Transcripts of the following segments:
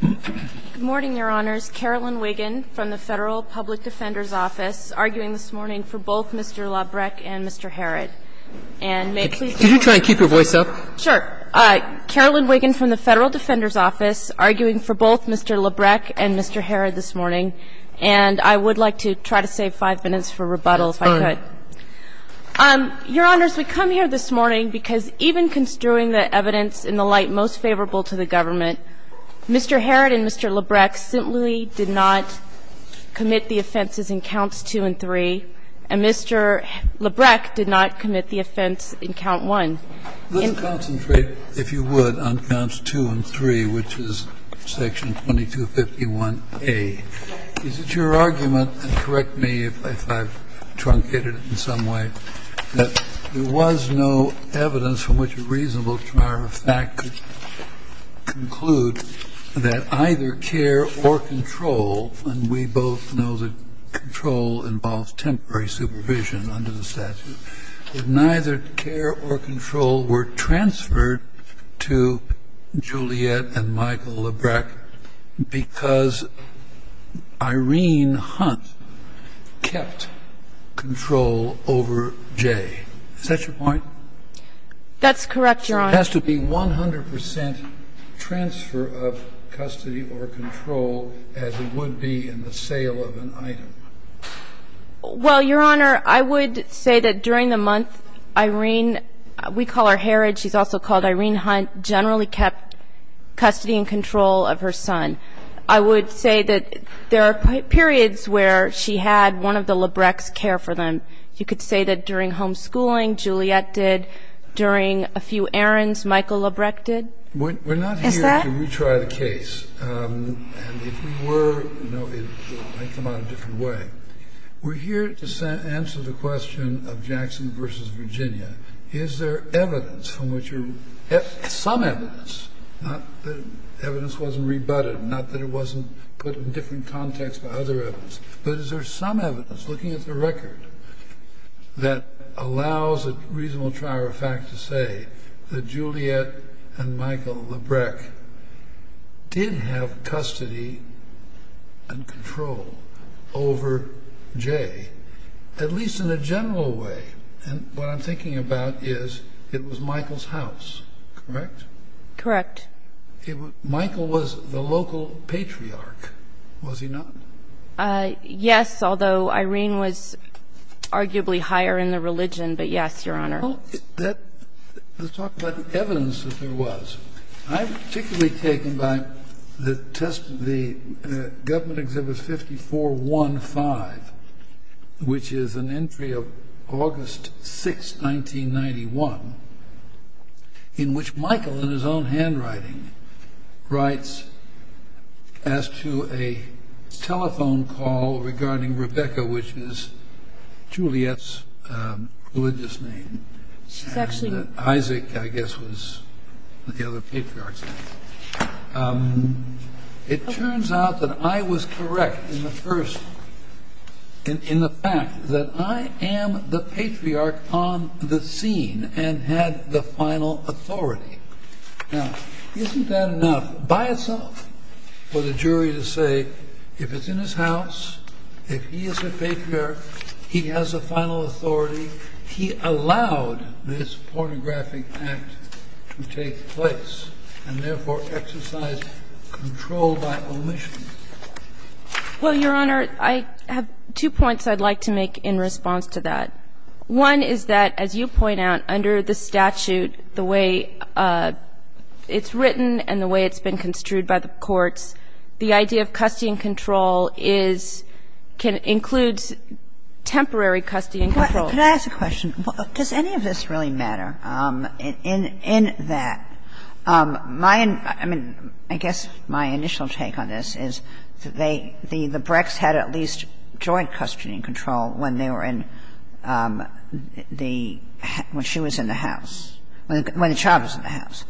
Good morning, Your Honors. Carolyn Wiggin from the Federal Public Defender's Office, arguing this morning for both Mr. Labrecque and Mr. Harrod. And may I please Did you try to keep your voice up? Sure. Carolyn Wiggin from the Federal Defender's Office, arguing for both Mr. Labrecque and Mr. Harrod this morning. And I would like to try to save five minutes for rebuttal, if I could. Your Honors, we come here this morning because even construing the evidence in the light of the day, I think it's most favorable to the government. Mr. Harrod and Mr. Labrecque simply did not commit the offenses in Counts 2 and 3, and Mr. Labrecque did not commit the offense in Count 1. Let's concentrate, if you would, on Counts 2 and 3, which is Section 2251A. Is it your argument, and correct me if I've truncated it in some way, that there was no evidence from which a reasonable juror of fact could conclude that either care or control, and we both know that control involves temporary supervision under the statute, that neither care or control were transferred to Juliet and Michael Labrecque because Irene Hunt kept custody and control over J? Is that your point? That's correct, Your Honor. So it has to be 100 percent transfer of custody or control as it would be in the sale of an item. Well, Your Honor, I would say that during the month, Irene, we call her Harrod. She's also called Irene Hunt, generally kept custody and control of her son. I would say that there are periods where she had one of the Labrecques care for them. You could say that during homeschooling, Juliet did. During a few errands, Michael Labrecque did. Is that? We're not here to retry the case. And if we were, it might come out a different way. We're here to answer the question of Jackson v. Virginia. Is there evidence from which you're, some evidence, not that evidence wasn't rebutted, not that it wasn't put in a different context by other evidence, but is there some evidence looking at the record that allows a reasonable trier of fact to say that Juliet and Michael Labrecque did have custody and control over J, at least in a general way? And what I'm thinking about is, it was Michael's house, correct? Correct. Michael was the local patriarch, was he not? Yes, although Irene was arguably higher in the religion, but yes, Your Honor. Let's talk about the evidence that there was. I'm particularly taken by the test, the government exhibit 5415, which is an entry of August 6, 1991, in which Michael, in his own handwriting, writes as to a telephone call regarding Rebecca, which is Juliet's religious name, and that Isaac, I guess, was the other patriarch's name. It turns out that I was correct in the fact that I am the patriarch on the scene and had the final authority. Now, isn't that enough by itself for the jury to say, if it's in his house, if he is the patriarch, he has the final authority, he allowed this pornographic act to take place, and therefore exercised control by omission? Well, Your Honor, I have two points I'd like to make in response to that. One is that, as you point out, under the statute, the way it's written and the way it's been construed by the courts, the idea of custody and control is – can include temporary custody and control. Can I ask a question? Does any of this really matter? In that, my – I mean, I guess my initial take on this is they – the Brecks had at least joint custody and control when they were in the – when she was in the house, when the child was in the house.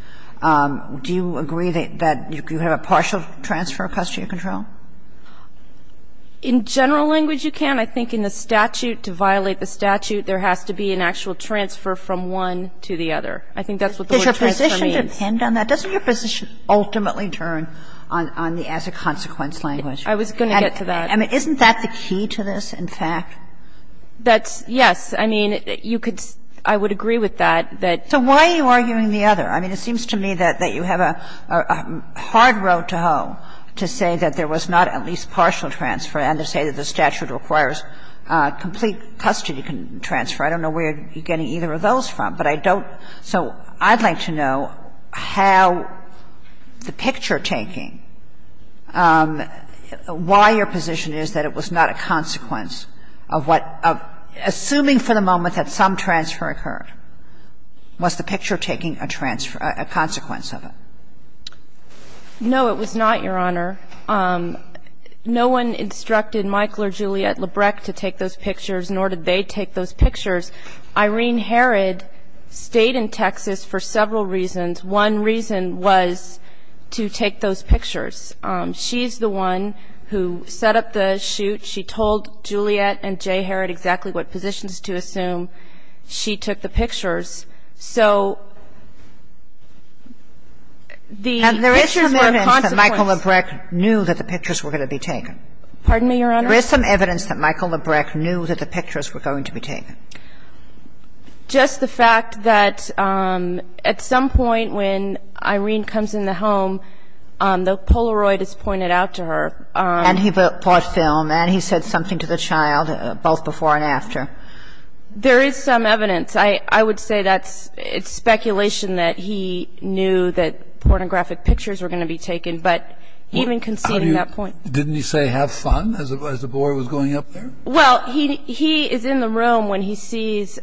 Do you agree that you have a partial transfer of custody and control? In general language, you can. I think in the statute, to violate the statute, there has to be an actual transfer from one to the other. I think that's what the word transfer means. Does your position depend on that? Doesn't your position ultimately turn on the as a consequence language? I was going to get to that. I mean, isn't that the key to this, in fact? That's – yes. I mean, you could – I would agree with that, that – So why are you arguing the other? I mean, it seems to me that you have a hard row to hoe to say that there was not at least partial transfer and to say that the statute requires complete custody transfer. I don't know where you're getting either of those from, but I don't – so I'd like to know how the picture-taking, why your position is that it was not a consequence of what – assuming for the moment that some transfer occurred, was the picture-taking a transfer – a consequence of it? No, it was not, Your Honor. No one instructed Michael or Juliet Labreck to take those pictures, nor did they take those pictures. Irene Herod stayed in Texas for several reasons. One reason was to take those pictures. She's the one who set up the shoot. She told Juliet and Jay Herod exactly what positions to assume. She took the pictures. So the pictures were a consequence – And there is some evidence that Michael Labreck knew that the pictures were going to be taken. Pardon me, Your Honor? There is some evidence that Michael Labreck knew that the pictures were going to be taken. Just the fact that at some point when Irene comes in the home, the Polaroid is pointed out to her. And he bought film and he said something to the child, both before and after. There is some evidence. I would say that's – it's speculation that he knew that pornographic pictures were going to be taken, but even conceding that point. Didn't he say have fun as the boy was going up there? Well, he is in the room when he sees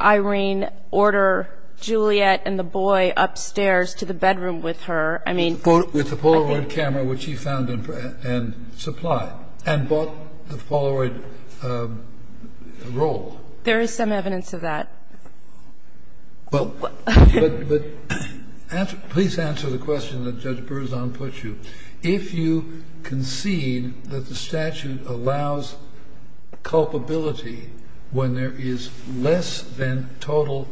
Irene order Juliet and the boy upstairs to the bedroom with her. I mean – With the Polaroid camera, which he found and supplied, and bought the Polaroid idea. I would say that's a good role. There is some evidence of that. Well, but – please answer the question that Judge Berzon put you. If you concede that the statute allows culpability when there is less than total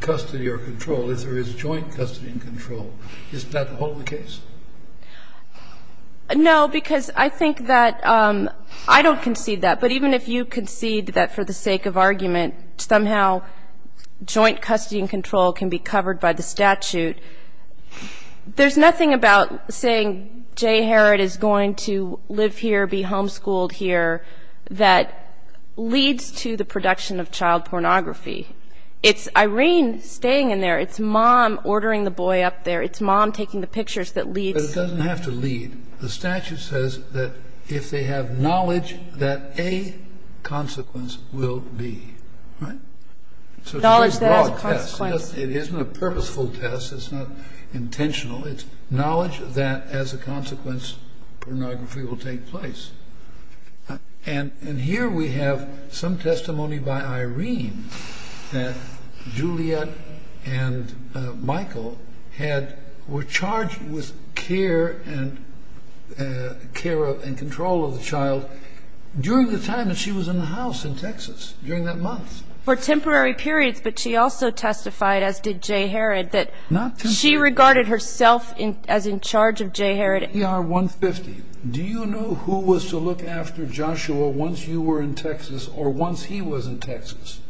custody or control, if there is joint custody and control, isn't that the whole case? No, because I think that – I don't concede that, but even if you concede that for the sake of argument, somehow joint custody and control can be covered by the statute, there is nothing about saying Jay Herrod is going to live here, be homeschooled here, that leads to the production of child pornography. It's Irene staying in there. It's mom ordering the boy up there. It's mom taking the pictures that leads – It doesn't have to lead. The statute says that if they have knowledge that a consequence will be. Right? Knowledge that has a consequence. It isn't a purposeful test. It's not intentional. It's knowledge that as a consequence pornography will take place. And here we have some testimony by Irene that Juliet and Michael had – were charged with care and control of the child during the time that she was in the house in Texas, during that month. For temporary periods, but she also testified, as did Jay Herrod, that – Not temporary. She regarded herself as in charge of Jay Herrod. PR-150, do you know who was to look after Joshua once you were in Texas or once he was in Texas?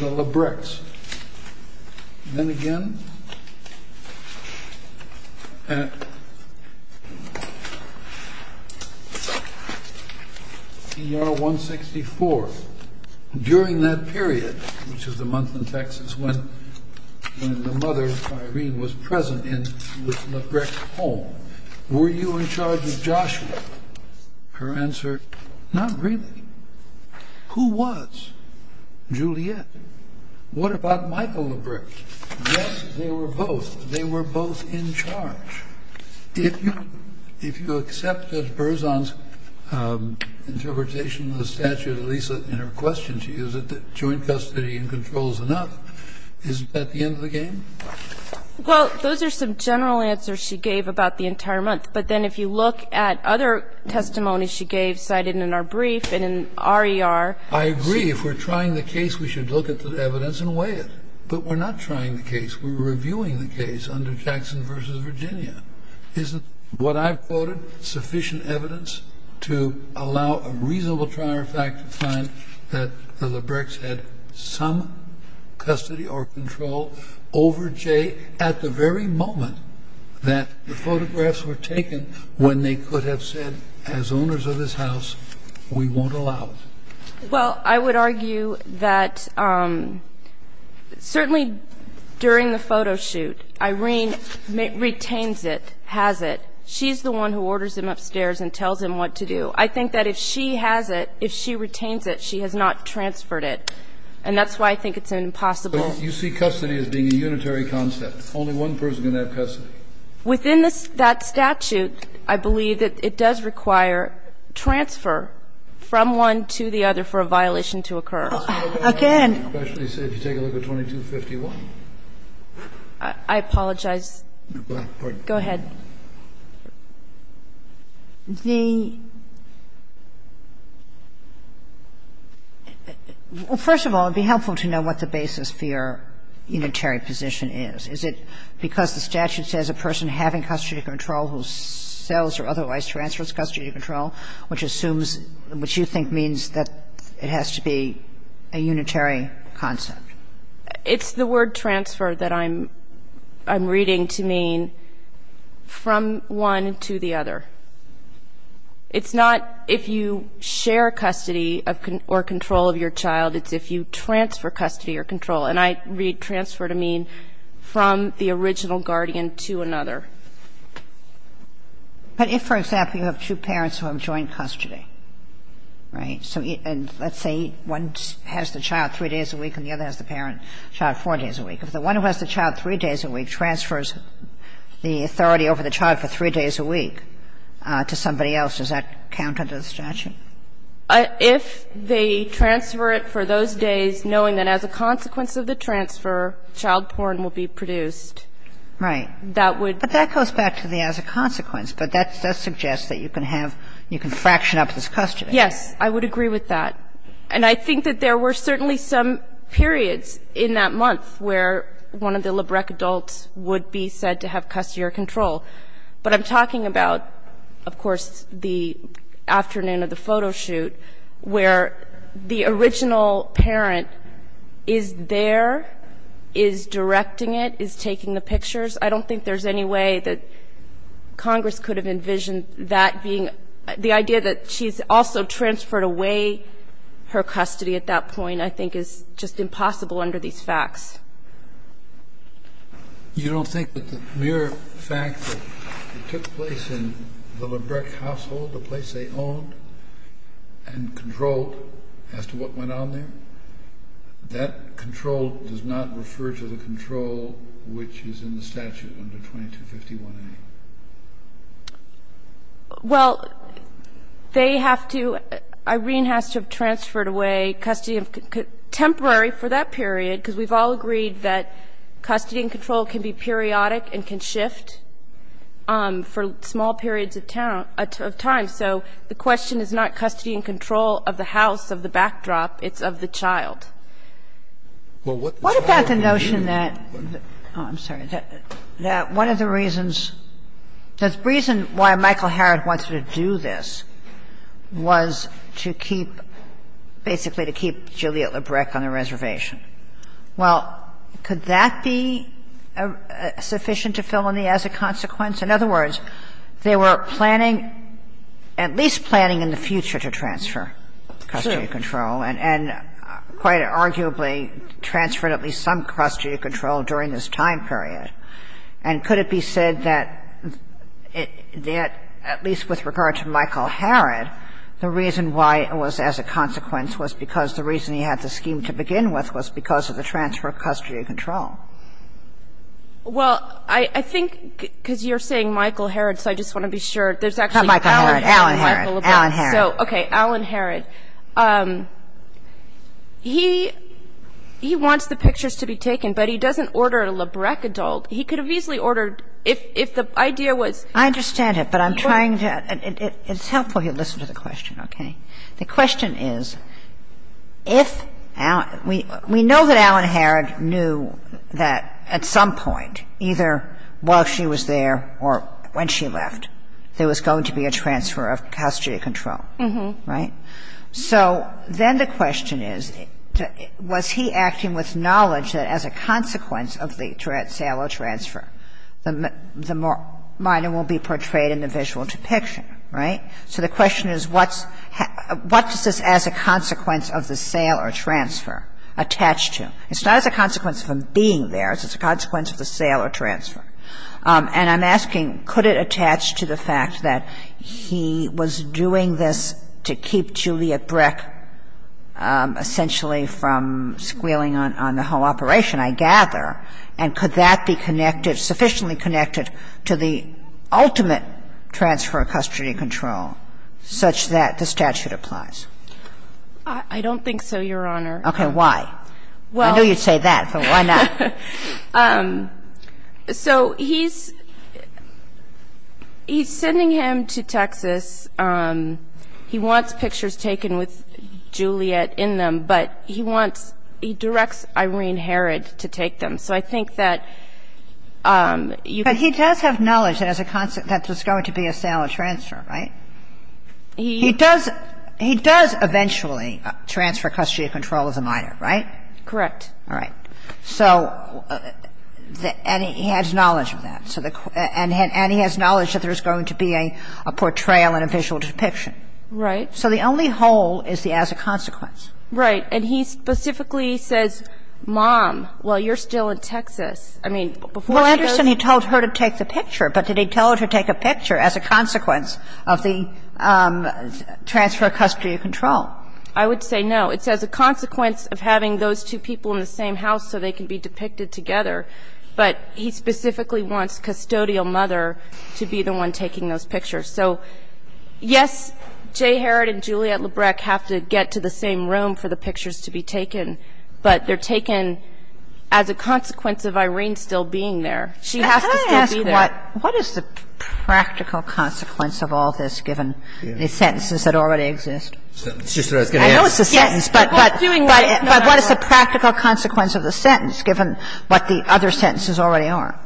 The Lebrechts. Then again, PR-164, during that period, which is the month in Texas when the were you in charge of Joshua? Her answer, not really. Who was? Juliet. What about Michael Lebrecht? Yes, they were both. They were both in charge. If you accepted Berzon's interpretation of the statute, at least in her question, she used it, that joint custody and control is enough. Isn't that the end of the game? Well, those are some general answers she gave about the entire month. But then if you look at other testimonies she gave, cited in our brief and in RER. I agree. If we're trying the case, we should look at the evidence and weigh it. But we're not trying the case. We're reviewing the case under Jackson v. Virginia. Isn't what I've quoted sufficient evidence to allow a reasonable trier fact to find that the Lebrechts had some custody or control over Jay at the very moment that the photographs were taken when they could have said, as owners of this house, we won't allow it? Well, I would argue that certainly during the photo shoot, Irene retains it, has it. She's the one who orders him upstairs and tells him what to do. I think that if she has it, if she retains it, she has not transferred it. And that's why I think it's an impossible. But you see custody as being a unitary concept. Only one person can have custody. Within that statute, I believe that it does require transfer from one to the other for a violation to occur. Again. Especially if you take a look at 2251. I apologize. Go ahead. Well, first of all, it would be helpful to know what the basis for your unitary position is. Is it because the statute says a person having custody control who sells or otherwise transfers custody control, which assumes, which you think means that it has to be a unitary concept? It's the word transfer that I'm reading to mean the person who has custody from one to the other. It's not if you share custody or control of your child. It's if you transfer custody or control. And I read transfer to mean from the original guardian to another. But if, for example, you have two parents who have joint custody, right, and let's say one has the child three days a week and the other has the parent child four days a week, if the one who has the child three days a week transfers the authority over the child for three days a week to somebody else, does that count under the statute? If they transfer it for those days, knowing that as a consequence of the transfer, child porn will be produced. Right. That would be. But that goes back to the as a consequence. But that suggests that you can have, you can fraction up this custody. Yes. I would agree with that. And I think that there were certainly some periods in that month where one of the Labreck adults would be said to have custody or control. But I'm talking about, of course, the afternoon of the photo shoot where the original parent is there, is directing it, is taking the pictures. I don't think there's any way that Congress could have envisioned that being the idea that she's also transferred away her custody at that point I think is just impossible under these facts. You don't think that the mere fact that it took place in the Labreck household, the place they owned and controlled as to what went on there, that control does not refer to the control which is in the statute under 2251A? Well, they have to, Irene has to have transferred away custody temporary for that period because we've all agreed that custody and control can be periodic and can shift for small periods of time. So the question is not custody and control of the house, of the backdrop. It's of the child. Kagan. Kagan. Kagan. What about the notion that, oh, I'm sorry, that one of the reasons, the reason why Michael Harrod wanted to do this was to keep, basically to keep Juliette Labreck on the reservation. Well, could that be sufficient to fill in the as a consequence? In other words, they were planning, at least planning in the future to transfer custody and control and quite arguably transferred at least some custody and control during this time period. And could it be said that at least with regard to Michael Harrod, the reason why it was as a consequence was because the reason he had the scheme to begin with was because of the transfer of custody and control. Well, I think because you're saying Michael Harrod, so I just want to be sure. There's actually Alan Harrod. Not Michael Harrod. Alan Harrod. Alan Harrod. So, okay. Alan Harrod. He wants the pictures to be taken, but he doesn't order a Labreck adult. He could have easily ordered if the idea was. I understand it, but I'm trying to. It's helpful you listen to the question, okay? The question is, if we know that Alan Harrod knew that at some point, either while she was there or when she left, there was going to be a transfer of custody and control, right? So then the question is, was he acting with knowledge that as a consequence of the sale or transfer, the minor will be portrayed in the visual depiction, right? So the question is, what does this as a consequence of the sale or transfer attach to? It's not as a consequence of him being there. It's as a consequence of the sale or transfer. And I'm asking, could it attach to the fact that he was doing this to keep Juliet Breck essentially from squealing on the whole operation, I gather, and could that be sufficiently connected to the ultimate transfer of custody and control such that the statute applies? I don't think so, Your Honor. Okay. Why? I know you'd say that, but why not? So he's ‑‑ he's sending him to Texas. He wants pictures taken with Juliet in them, but he wants ‑‑ he directs Irene Harrod to take them. So I think that you can ‑‑ But he does have knowledge that as a consequence that there's going to be a sale or transfer, right? He does ‑‑ he does eventually transfer custody and control as a minor, right? Correct. All right. So ‑‑ and he has knowledge of that. So the ‑‑ and he has knowledge that there's going to be a portrayal and a visual depiction. Right. So the only whole is the as a consequence. Right. And he specifically says, mom, while you're still in Texas, I mean, before he goes the picture, but did he tell her to take a picture as a consequence of the transfer of custody and control? I would say no. It's as a consequence of having those two people in the same house so they can be depicted together. But he specifically wants custodial mother to be the one taking those pictures. So, yes, Jay Harrod and Juliet Labreck have to get to the same room for the pictures to be taken. But they're taken as a consequence of Irene still being there. She has to still be there. Can I ask what is the practical consequence of all this, given the sentences that already exist? It's just what I was going to ask. I know it's a sentence, but what is the practical consequence of the sentence, given what the other sentences already are?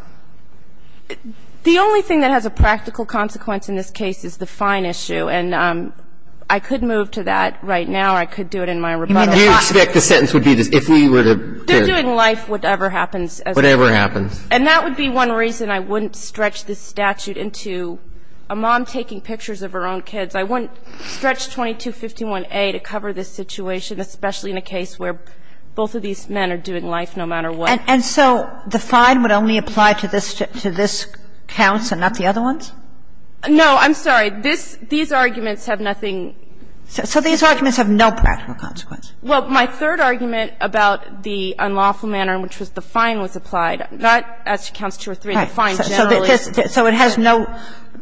The only thing that has a practical consequence in this case is the fine issue. And I could move to that right now. I could do it in my rebuttal. Do you expect the sentence would be this, if we were to ‑‑ They're doing life, whatever happens. Whatever happens. And that would be one reason I wouldn't stretch this statute into a mom taking pictures of her own kids. I wouldn't stretch 2251a to cover this situation, especially in a case where both of these men are doing life no matter what. And so the fine would only apply to this ‑‑ to this counts and not the other ones? No, I'm sorry. This ‑‑ these arguments have nothing. So these arguments have no practical consequence. Well, my third argument about the unlawful manner, which was the fine was applied, not as to counts two or three. The fine generally ‑‑ So it has no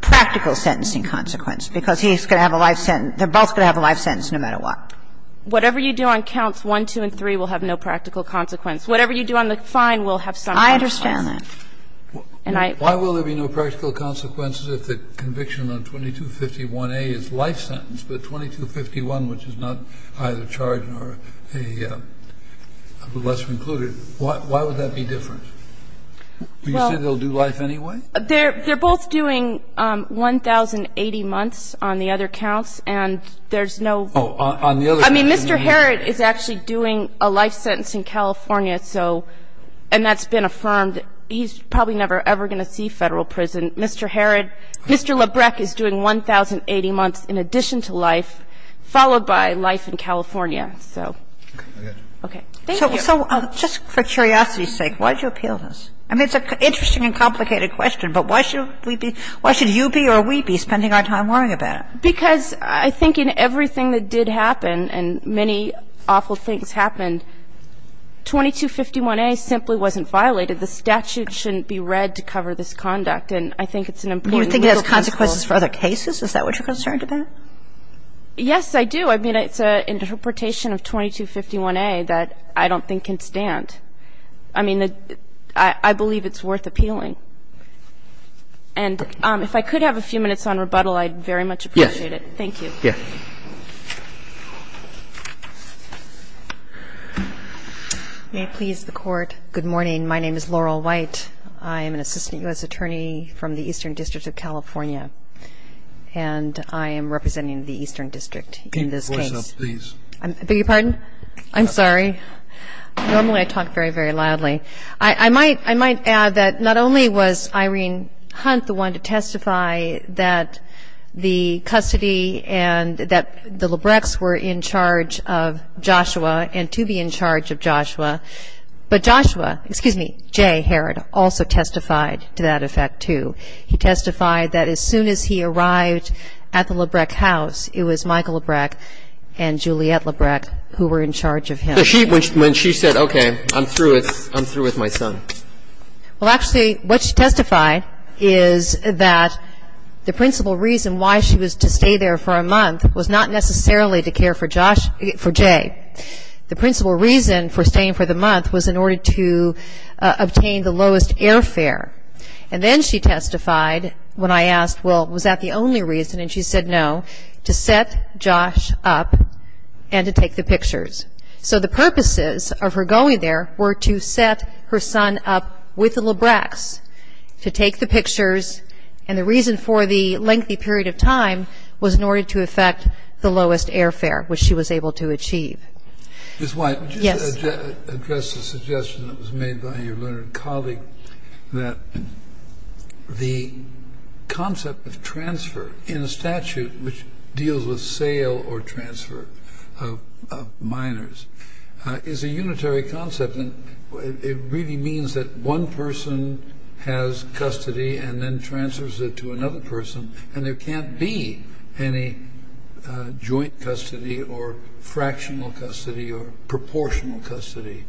practical sentencing consequence, because he's going to have a life sentence ‑‑ they're both going to have a life sentence no matter what. Whatever you do on counts one, two, and three will have no practical consequence. Whatever you do on the fine will have some practical consequence. I understand that. And I ‑‑ Why will there be no practical consequences if the conviction on 2251a is life sentence, but 2251, which is not either charged or a lesser included, why would that be different? Do you say they'll do life anyway? They're both doing 1,080 months on the other counts, and there's no ‑‑ Oh, on the other ‑‑ I mean, Mr. Herrod is actually doing a life sentence in California, so ‑‑ and that's been affirmed. He's probably never, ever going to see Federal prison. And Mr. Herrod, Mr. Lebrecq is doing 1,080 months in addition to life, followed by life in California, so. Okay. Thank you. So just for curiosity's sake, why did you appeal this? I mean, it's an interesting and complicated question, but why should we be ‑‑ why should you be or we be spending our time worrying about it? Because I think in everything that did happen, and many awful things happened, 2251A simply wasn't violated. The statute shouldn't be read to cover this conduct, and I think it's an important legal consequence. You think it has consequences for other cases? Is that what you're concerned about? Yes, I do. I mean, it's an interpretation of 2251A that I don't think can stand. I mean, I believe it's worth appealing. And if I could have a few minutes on rebuttal, I'd very much appreciate it. Yes. Thank you. Yes. May it please the Court. Good morning. My name is Laurel White. I am an assistant U.S. attorney from the Eastern District of California, and I am representing the Eastern District in this case. Keep your voice up, please. I beg your pardon? I'm sorry. Normally I talk very, very loudly. I might add that not only was Irene Hunt the one to testify that the custody and that the Lebrechts were in charge of Joshua and to be in charge of Joshua, but Joshua, excuse me, J. Herrod also testified to that effect, too. He testified that as soon as he arrived at the Lebrecht house, it was Michael Lebrecht and Juliette Lebrecht who were in charge of him. When she said, okay, I'm through with my son. Well, actually what she testified is that the principal reason why she was to stay there for a month was not necessarily to care for Josh, for J. The principal reason for staying for the month was in order to obtain the lowest airfare. And then she testified when I asked, well, was that the only reason? And she said no, to set Josh up and to take the pictures. So the purposes of her going there were to set her son up with the Lebrechts to take the pictures. And the reason for the lengthy period of time was in order to effect the lowest airfare, which she was able to achieve. Ms. White. Yes. Address the suggestion that was made by your learned colleague that the concept of transfer in statute which deals with sale or transfer of minors is a unitary concept. And it really means that one person has custody and then transfers it to another person. And there can't be any joint custody or fractional custody or proportional custody.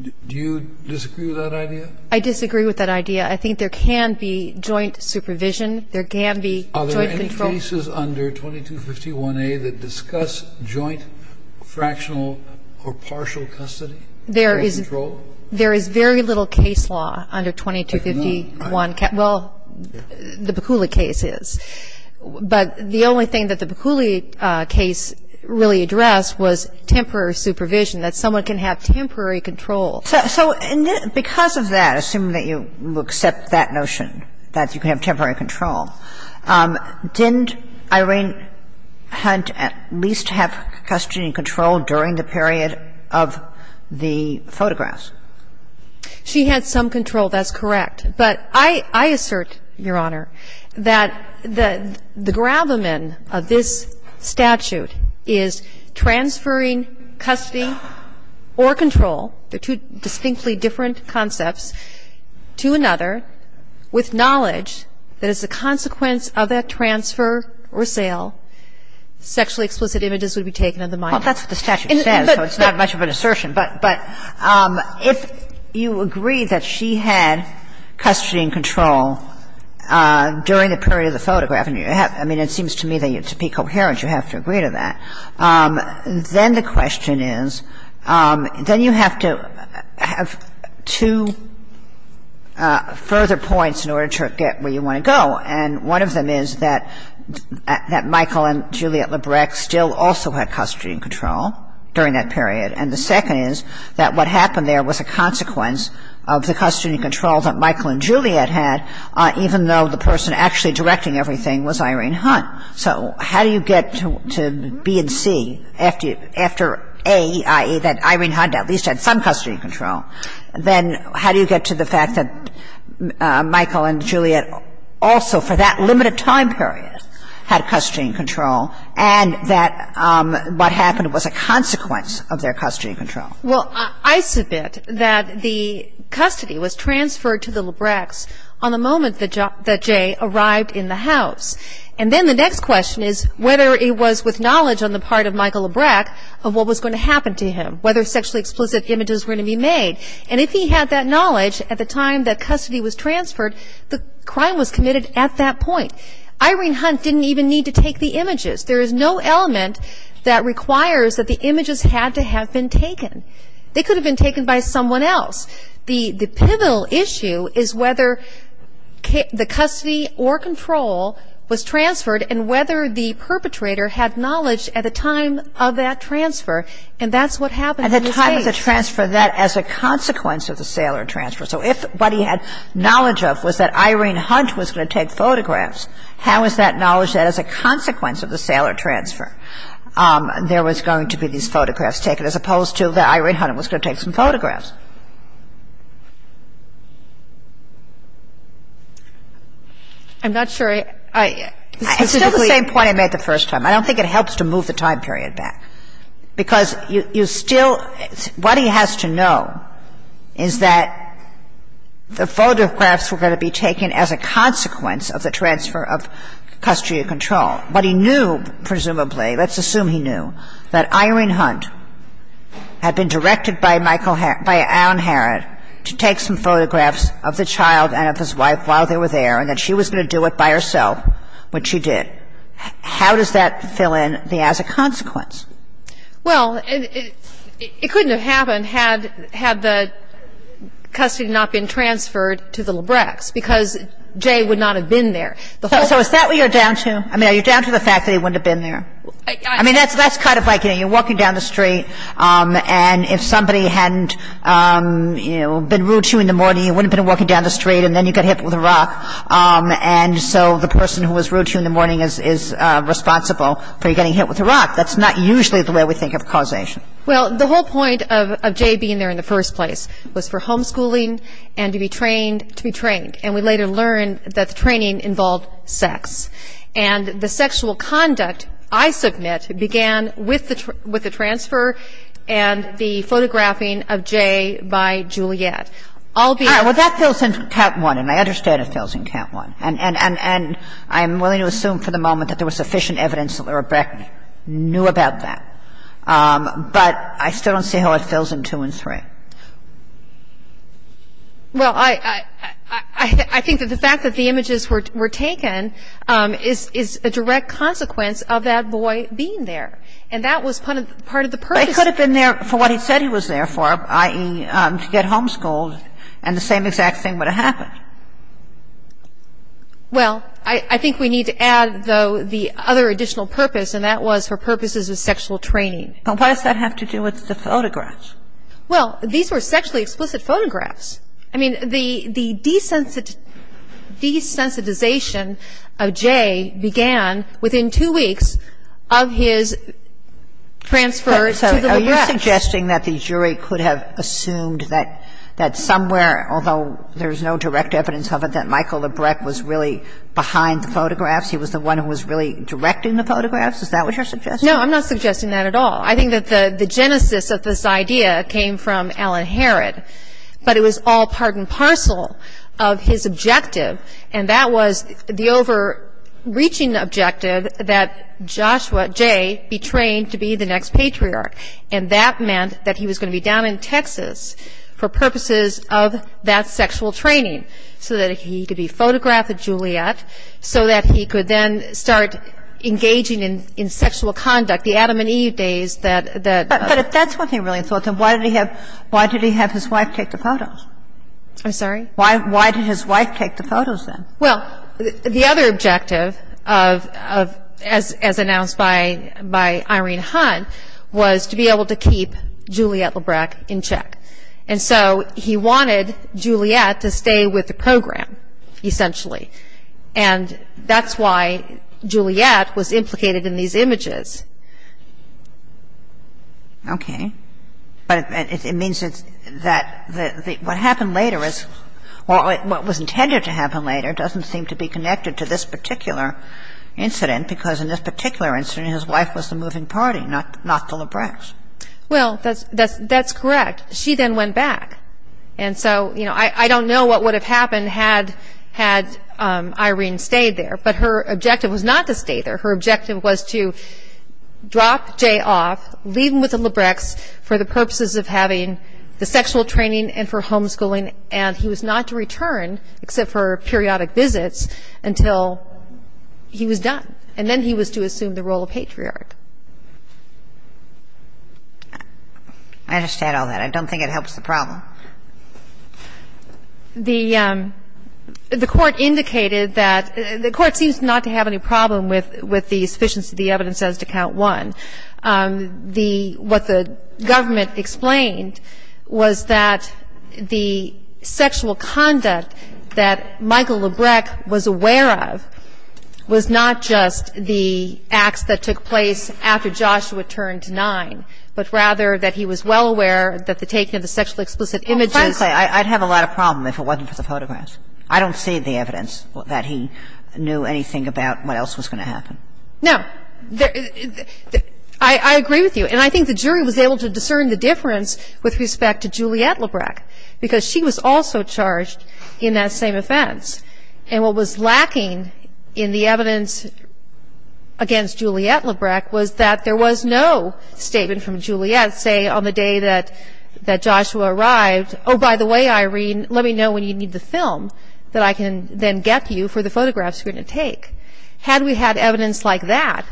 Do you disagree with that idea? I disagree with that idea. I think there can be joint supervision. There can be joint control. Are there any cases under 2251A that discuss joint, fractional, or partial custody? There is very little case law under 2251. There's none. Well, the Bukhuli case is. But the only thing that the Bukhuli case really addressed was temporary supervision, that someone can have temporary control. So because of that, assuming that you accept that notion, that you can have temporary control, didn't Irene Hunt at least have custody and control during the period of the photographs? She had some control. That's correct. But I assert, Your Honor, that the gravamen of this statute is transferring custody or control, the two distinctly different concepts, to another with knowledge that as a consequence of that transfer or sale, sexually explicit images would be taken of the mind. Well, that's what the statute says, so it's not much of an assertion. But if you agree that she had custody and control during the period of the photograph and you have, I mean, it seems to me that to be coherent, you have to agree to that, then the question is, then you have to have two further points in order to get where you want to go. And one of them is that Michael and Juliet Labreck still also had custody and control during that period. And the second is that what happened there was a consequence of the custody and control. And the second is that what happened during everything was Irene Hunt. So how do you get to B and C after A, i.e., that Irene Hunt at least had some custody and control, then how do you get to the fact that Michael and Juliet also for that limited time period had custody and control and that what happened was a consequence of their custody and control? Well, I submit that the custody was transferred to the Labreck's on the moment that Jay arrived in the house. And then the next question is whether it was with knowledge on the part of Michael Labreck of what was going to happen to him, whether sexually explicit images were going to be made. And if he had that knowledge at the time that custody was transferred, the crime was committed at that point. Irene Hunt didn't even need to take the images. There is no element that requires that the images had to have been taken. They could have been taken by someone else. The pivotal issue is whether the custody or control was transferred and whether the custody was transferred at the time of that transfer. And that's what happened in this case. At the time of the transfer, that as a consequence of the sailor transfer. So if what he had knowledge of was that Irene Hunt was going to take photographs, how is that knowledge that as a consequence of the sailor transfer there was going to be these photographs taken as opposed to that Irene Hunt was going to take some photographs? I'm not sure I – It's still the same point I made the first time. I don't think it helps to move the time period back. Because you still – what he has to know is that the photographs were going to be taken as a consequence of the transfer of custody or control. But he knew, presumably, let's assume he knew, that Irene Hunt had been directed by Michael – by Alan Herrod to take some photographs of the child and of his wife while they were there and that she was going to do it by herself, which she did. How does that fill in the as a consequence? Well, it couldn't have happened had the custody not been transferred to the Lebrex because Jay would not have been there. So is that what you're down to? I mean, are you down to the fact that he wouldn't have been there? I mean, that's kind of like, you know, you're walking down the street and if somebody hadn't, you know, been rude to you in the morning, you wouldn't have been walking down the street and then you got hit with a rock. And so the person who was rude to you in the morning is responsible for you getting hit with a rock. That's not usually the way we think of causation. Well, the whole point of Jay being there in the first place was for homeschooling and to be trained to be trained. And we later learned that the training involved sex. And the sexual conduct, I submit, began with the transfer and the photographing of Jay by Juliet. I'll be honest. All right. Well, that fills in Cat. 1, and I understand it fills in Cat. 1. And I'm willing to assume for the moment that there was sufficient evidence that Lebrex knew about that. But I still don't see how it fills in 2 and 3. Well, I think that the fact that the images were taken is a direct consequence of that boy being there. And that was part of the purpose. But he could have been there for what he said he was there for, i.e., to get homeschooled, and the same exact thing would have happened. Well, I think we need to add, though, the other additional purpose, and that was for purposes of sexual training. But why does that have to do with the photographs? Well, these were sexually explicit photographs. I mean, the desensitization of Jay began within two weeks of his transfer to the Lebrex. So are you suggesting that the jury could have assumed that somewhere, although there's no direct evidence of it, that Michael Lebrex was really behind the photographs, he was the one who was really directing the photographs? Is that what you're suggesting? No, I'm not suggesting that at all. I think that the genesis of this idea came from Alan Herrod. But it was all part and parcel of his objective, and that was the overreaching objective that Joshua Jay be trained to be the next patriarch. And that meant that he was going to be down in Texas for purposes of that sexual training, so that he could be photographed at Juliet, so that he could then start engaging in sexual conduct. The Adam and Eve days that — But if that's what he really thought, then why did he have his wife take the photos? I'm sorry? Why did his wife take the photos, then? Well, the other objective, as announced by Irene Hunt, was to be able to keep Juliet Lebrex in check. And so he wanted Juliet to stay with the program, essentially. And that's why Juliet was implicated in these images. Okay. But it means that what happened later is — well, what was intended to happen later doesn't seem to be connected to this particular incident, because in this particular incident, his wife was the moving party, not the Lebrex. Well, that's correct. She then went back. And so, you know, I don't know what would have happened had Irene stayed there. But her objective was not to stay there. Her objective was to drop Jay off, leave him with the Lebrex for the purposes of having the sexual training and for homeschooling, and he was not to return, except for periodic visits, until he was done. And then he was to assume the role of patriarch. I understand all that. I don't think it helps the problem. The Court indicated that — the Court seems not to have any problem with the sufficiency of the evidence as to Count 1. The — what the government explained was that the sexual conduct that Michael Lebrex was aware of was not just the acts that took place after Joshua turned 9, but rather that he was well aware that the taking of the sexually explicit images — Well, frankly, I'd have a lot of problem if it wasn't for the photographs. I don't see the evidence that he knew anything about what else was going to happen. No. I agree with you. And I think the jury was able to discern the difference with respect to Juliette Lebrex, because she was also charged in that same offense. And what was lacking in the evidence against Juliette Lebrex was that there was no statement from Juliette, say, on the day that Joshua arrived, Oh, by the way, Irene, let me know when you need the film that I can then get you for the photographs we're going to take. Had we had evidence like that,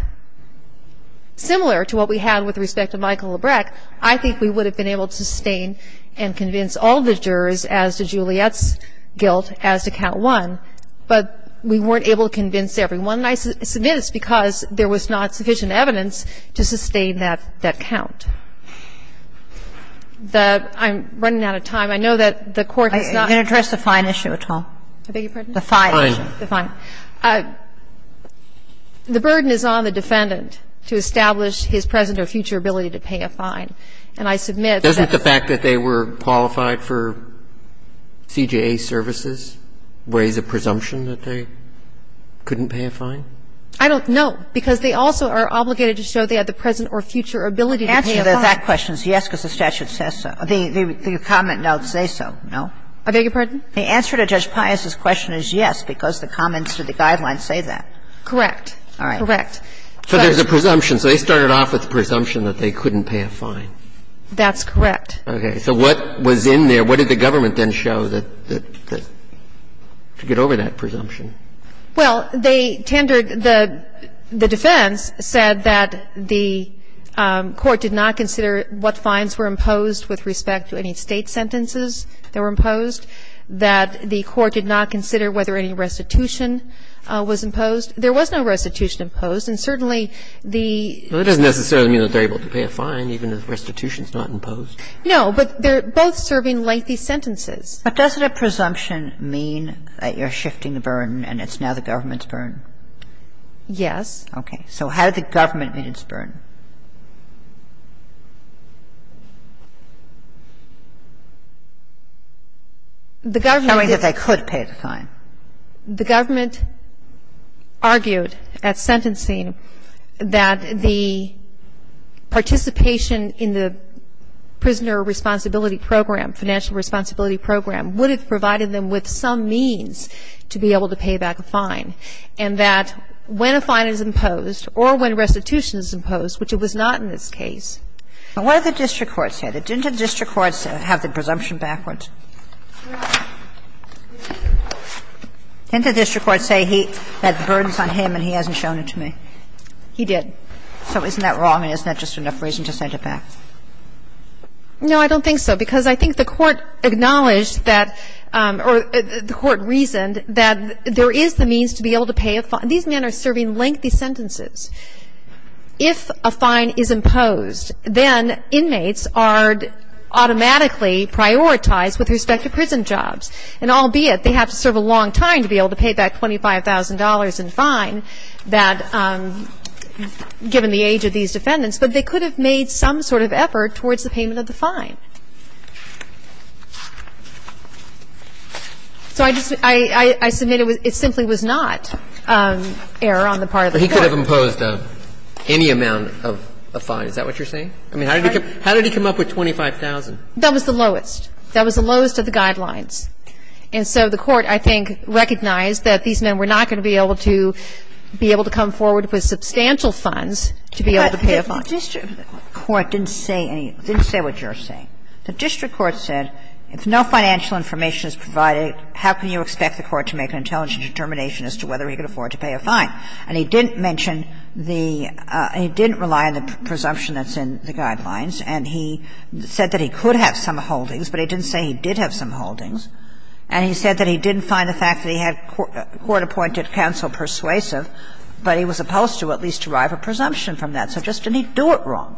similar to what we had with respect to Michael Lebrex, I think we would have been able to sustain and convince all the jurors as to Juliette's guilt as to count one, but we weren't able to convince everyone. And I submit it's because there was not sufficient evidence to sustain that count. I'm running out of time. I know that the Court has not — Are you going to address the fine issue at all? I beg your pardon? The fine issue. The fine. The burden is on the defendant to establish his present or future ability to pay a fine. And I submit that the fact that they were qualified for CJA services weighs a presumption that they couldn't pay a fine? I don't know, because they also are obligated to show they have the present or future ability to pay a fine. The answer to that question is yes, because the statute says so. The comment notes say so, no? I beg your pardon? The answer to Judge Pius's question is yes, because the comments to the guidelines say that. Correct. All right. Correct. So there's a presumption. So they started off with the presumption that they couldn't pay a fine. That's correct. Okay. So what was in there? What did the government then show that — to get over that presumption? Well, they tendered — the defense said that the Court did not consider what fines were imposed with respect to any State sentences that were imposed. That the Court did not consider whether any restitution was imposed. There was no restitution imposed, and certainly the — Well, that doesn't necessarily mean that they're able to pay a fine, even if restitution is not imposed. No. But they're both serving lengthy sentences. But doesn't a presumption mean that you're shifting the burden and it's now the government's burden? Yes. Okay. So how did the government meet its burden? The government — Showing that they could pay the fine. The government argued at sentencing that the participation in the prisoner responsibility program, financial responsibility program, would have provided them with some means to be able to pay back a fine, and that when a fine is imposed or when restitution is imposed, which it was not in this case. And what did the district courts say? Didn't the district courts have the presumption backwards? Didn't the district courts say that the burden is on him and he hasn't shown it to me? He did. So isn't that wrong and isn't that just enough reason to send it back? No, I don't think so, because I think the Court acknowledged that — or the Court reasoned that there is the means to be able to pay a fine. These men are serving lengthy sentences. If a fine is imposed, then inmates are automatically prioritized with respect to prison jobs, and albeit they have to serve a long time to be able to pay back $25,000 in fine that — given the age of these defendants, but they could have made some sort of effort towards the payment of the fine. So I just — I submit it simply was not error on the part of the Court. But he could have imposed any amount of a fine. Is that what you're saying? I mean, how did he come up with $25,000? That was the lowest. That was the lowest of the guidelines. And so the Court, I think, recognized that these men were not going to be able to be able to come forward with substantial funds to be able to pay a fine. But the district court didn't say any — didn't say what you're saying. The district court said if no financial information is provided, how can you expect the Court to make an intelligent determination as to whether he could afford to pay a fine? And he didn't mention the — he didn't rely on the presumption that's in the guidelines. And he said that he could have some holdings, but he didn't say he did have some holdings. And he said that he didn't find the fact that he had court-appointed counsel persuasive, but he was supposed to at least derive a presumption from that. So just didn't he do it wrong?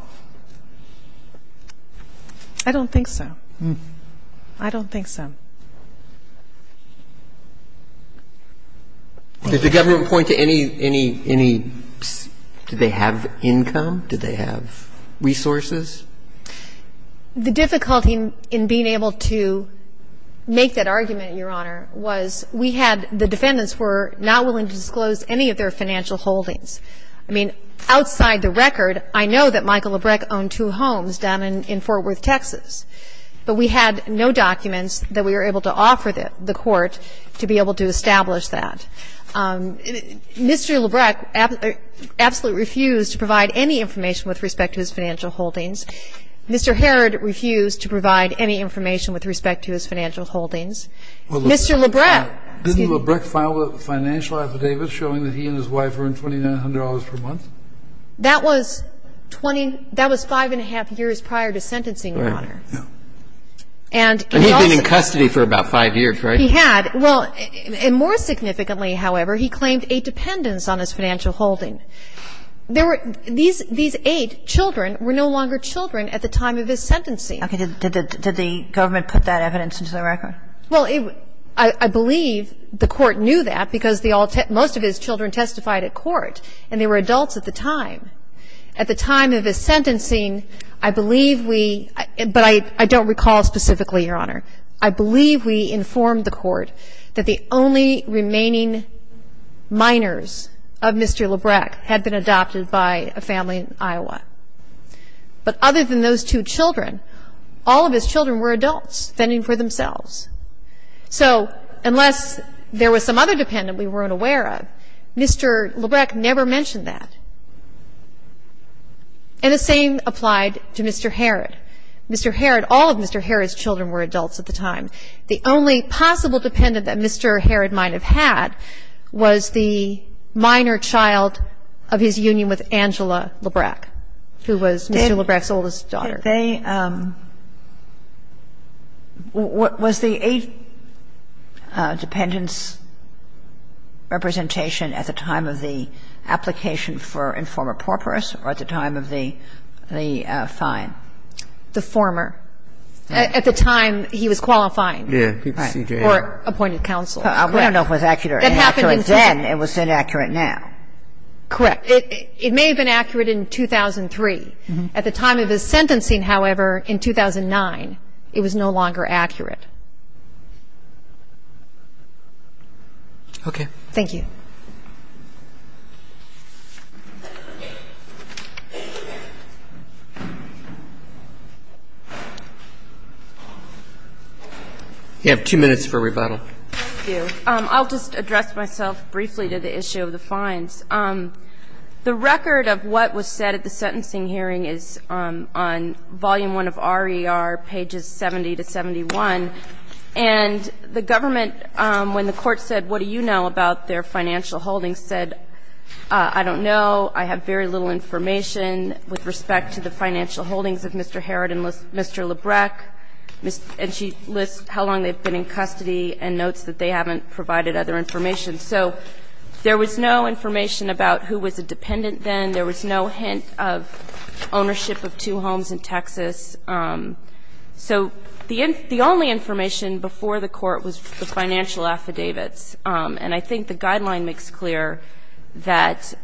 I don't think so. I don't think so. Did the government point to any — any — any — did they have income? Did they have resources? The difficulty in being able to make that argument, Your Honor, was we had — the defendants were not willing to disclose any of their financial holdings. I mean, outside the record, I know that Michael Labreck owned two homes down in Fort Worth, Texas. But we had no documents that we were able to offer the court to be able to establish that. Mr. Labreck absolutely refused to provide any information with respect to his financial holdings. Mr. Herrod refused to provide any information with respect to his financial holdings. Mr. Labreck — Didn't Labreck file a financial affidavit showing that he and his wife earned $2,900 per month? That was 20 — that was five and a half years prior to sentencing, Your Honor. Yeah. And he also — And he'd been in custody for about five years, right? He had. Well, and more significantly, however, he claimed a dependence on his financial holding. There were — these — these eight children were no longer children at the time of his sentencing. Okay. Did — did the government put that evidence into the record? Well, it — I believe the court knew that because the all — most of his children testified at court. And they were adults at the time. At the time of his sentencing, I believe we — but I — I don't recall specifically, Your Honor. I believe we informed the court that the only remaining minors of Mr. Labreck had been adopted by a family in Iowa. But other than those two children, all of his children were adults, fending for themselves. So unless there was some other dependent we weren't aware of, Mr. Labreck never mentioned that. And the same applied to Mr. Harrod. Mr. Harrod — all of Mr. Harrod's children were adults at the time. The only possible dependent that Mr. Harrod might have had was the minor child of his union with Angela Labreck, who was Mr. Labreck's oldest daughter. Did they — was the eight dependents' representation at the time of the application for informer porporus or at the time of the — the fine? The former. At the time he was qualifying. Yeah. For appointed counsel. Correct. We don't know if it was accurate or inaccurate then. It was inaccurate now. Correct. It may have been accurate in 2003. At the time of his sentencing, however, in 2009, it was no longer accurate. Okay. Thank you. You have two minutes for rebuttal. Thank you. I'll just address myself briefly to the issue of the fines. The record of what was said at the sentencing hearing is on Volume I of RER, pages 70 to 71. And the government, when the court said, what do you know about their financial holdings, said, I don't know. I have very little information with respect to the financial holdings of Mr. Harrod and Mr. Labreck. And she lists how long they've been in custody and notes that they haven't provided other information. So there was no information about who was a dependent then. There was no hint of ownership of two homes in Texas. So the only information before the court was the financial affidavits. And I think the guideline makes clear that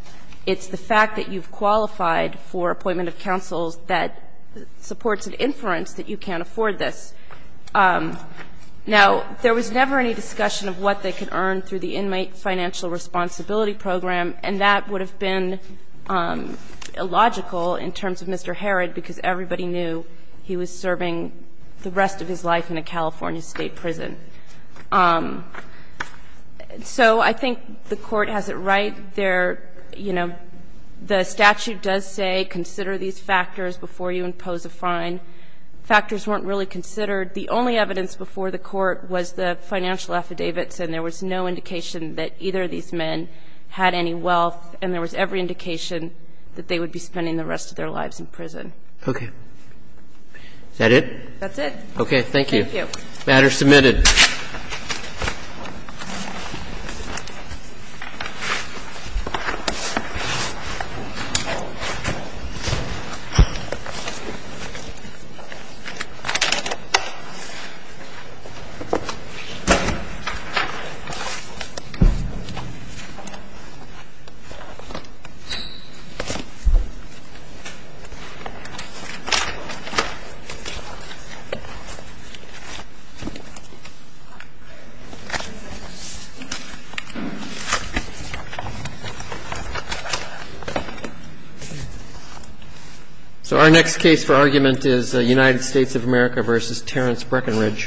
it's the fact that you've qualified for appointment of counsels that supports an inference that you can't afford this. Now, there was never any discussion of what they could earn through the inmate financial responsibility program, and that would have been illogical in terms of Mr. Harrod being a dependent. He was serving the rest of his life in a California state prison. So I think the court has it right there. You know, the statute does say consider these factors before you impose a fine. Factors weren't really considered. The only evidence before the court was the financial affidavits, and there was no indication that either of these men had any wealth, and there was every indication that they would be spending the rest of their lives in prison. Okay. Is that it? That's it. Okay. Thank you. Thank you. Matter submitted. So our next case for argument is United States of America v. Terrence Breckinridge.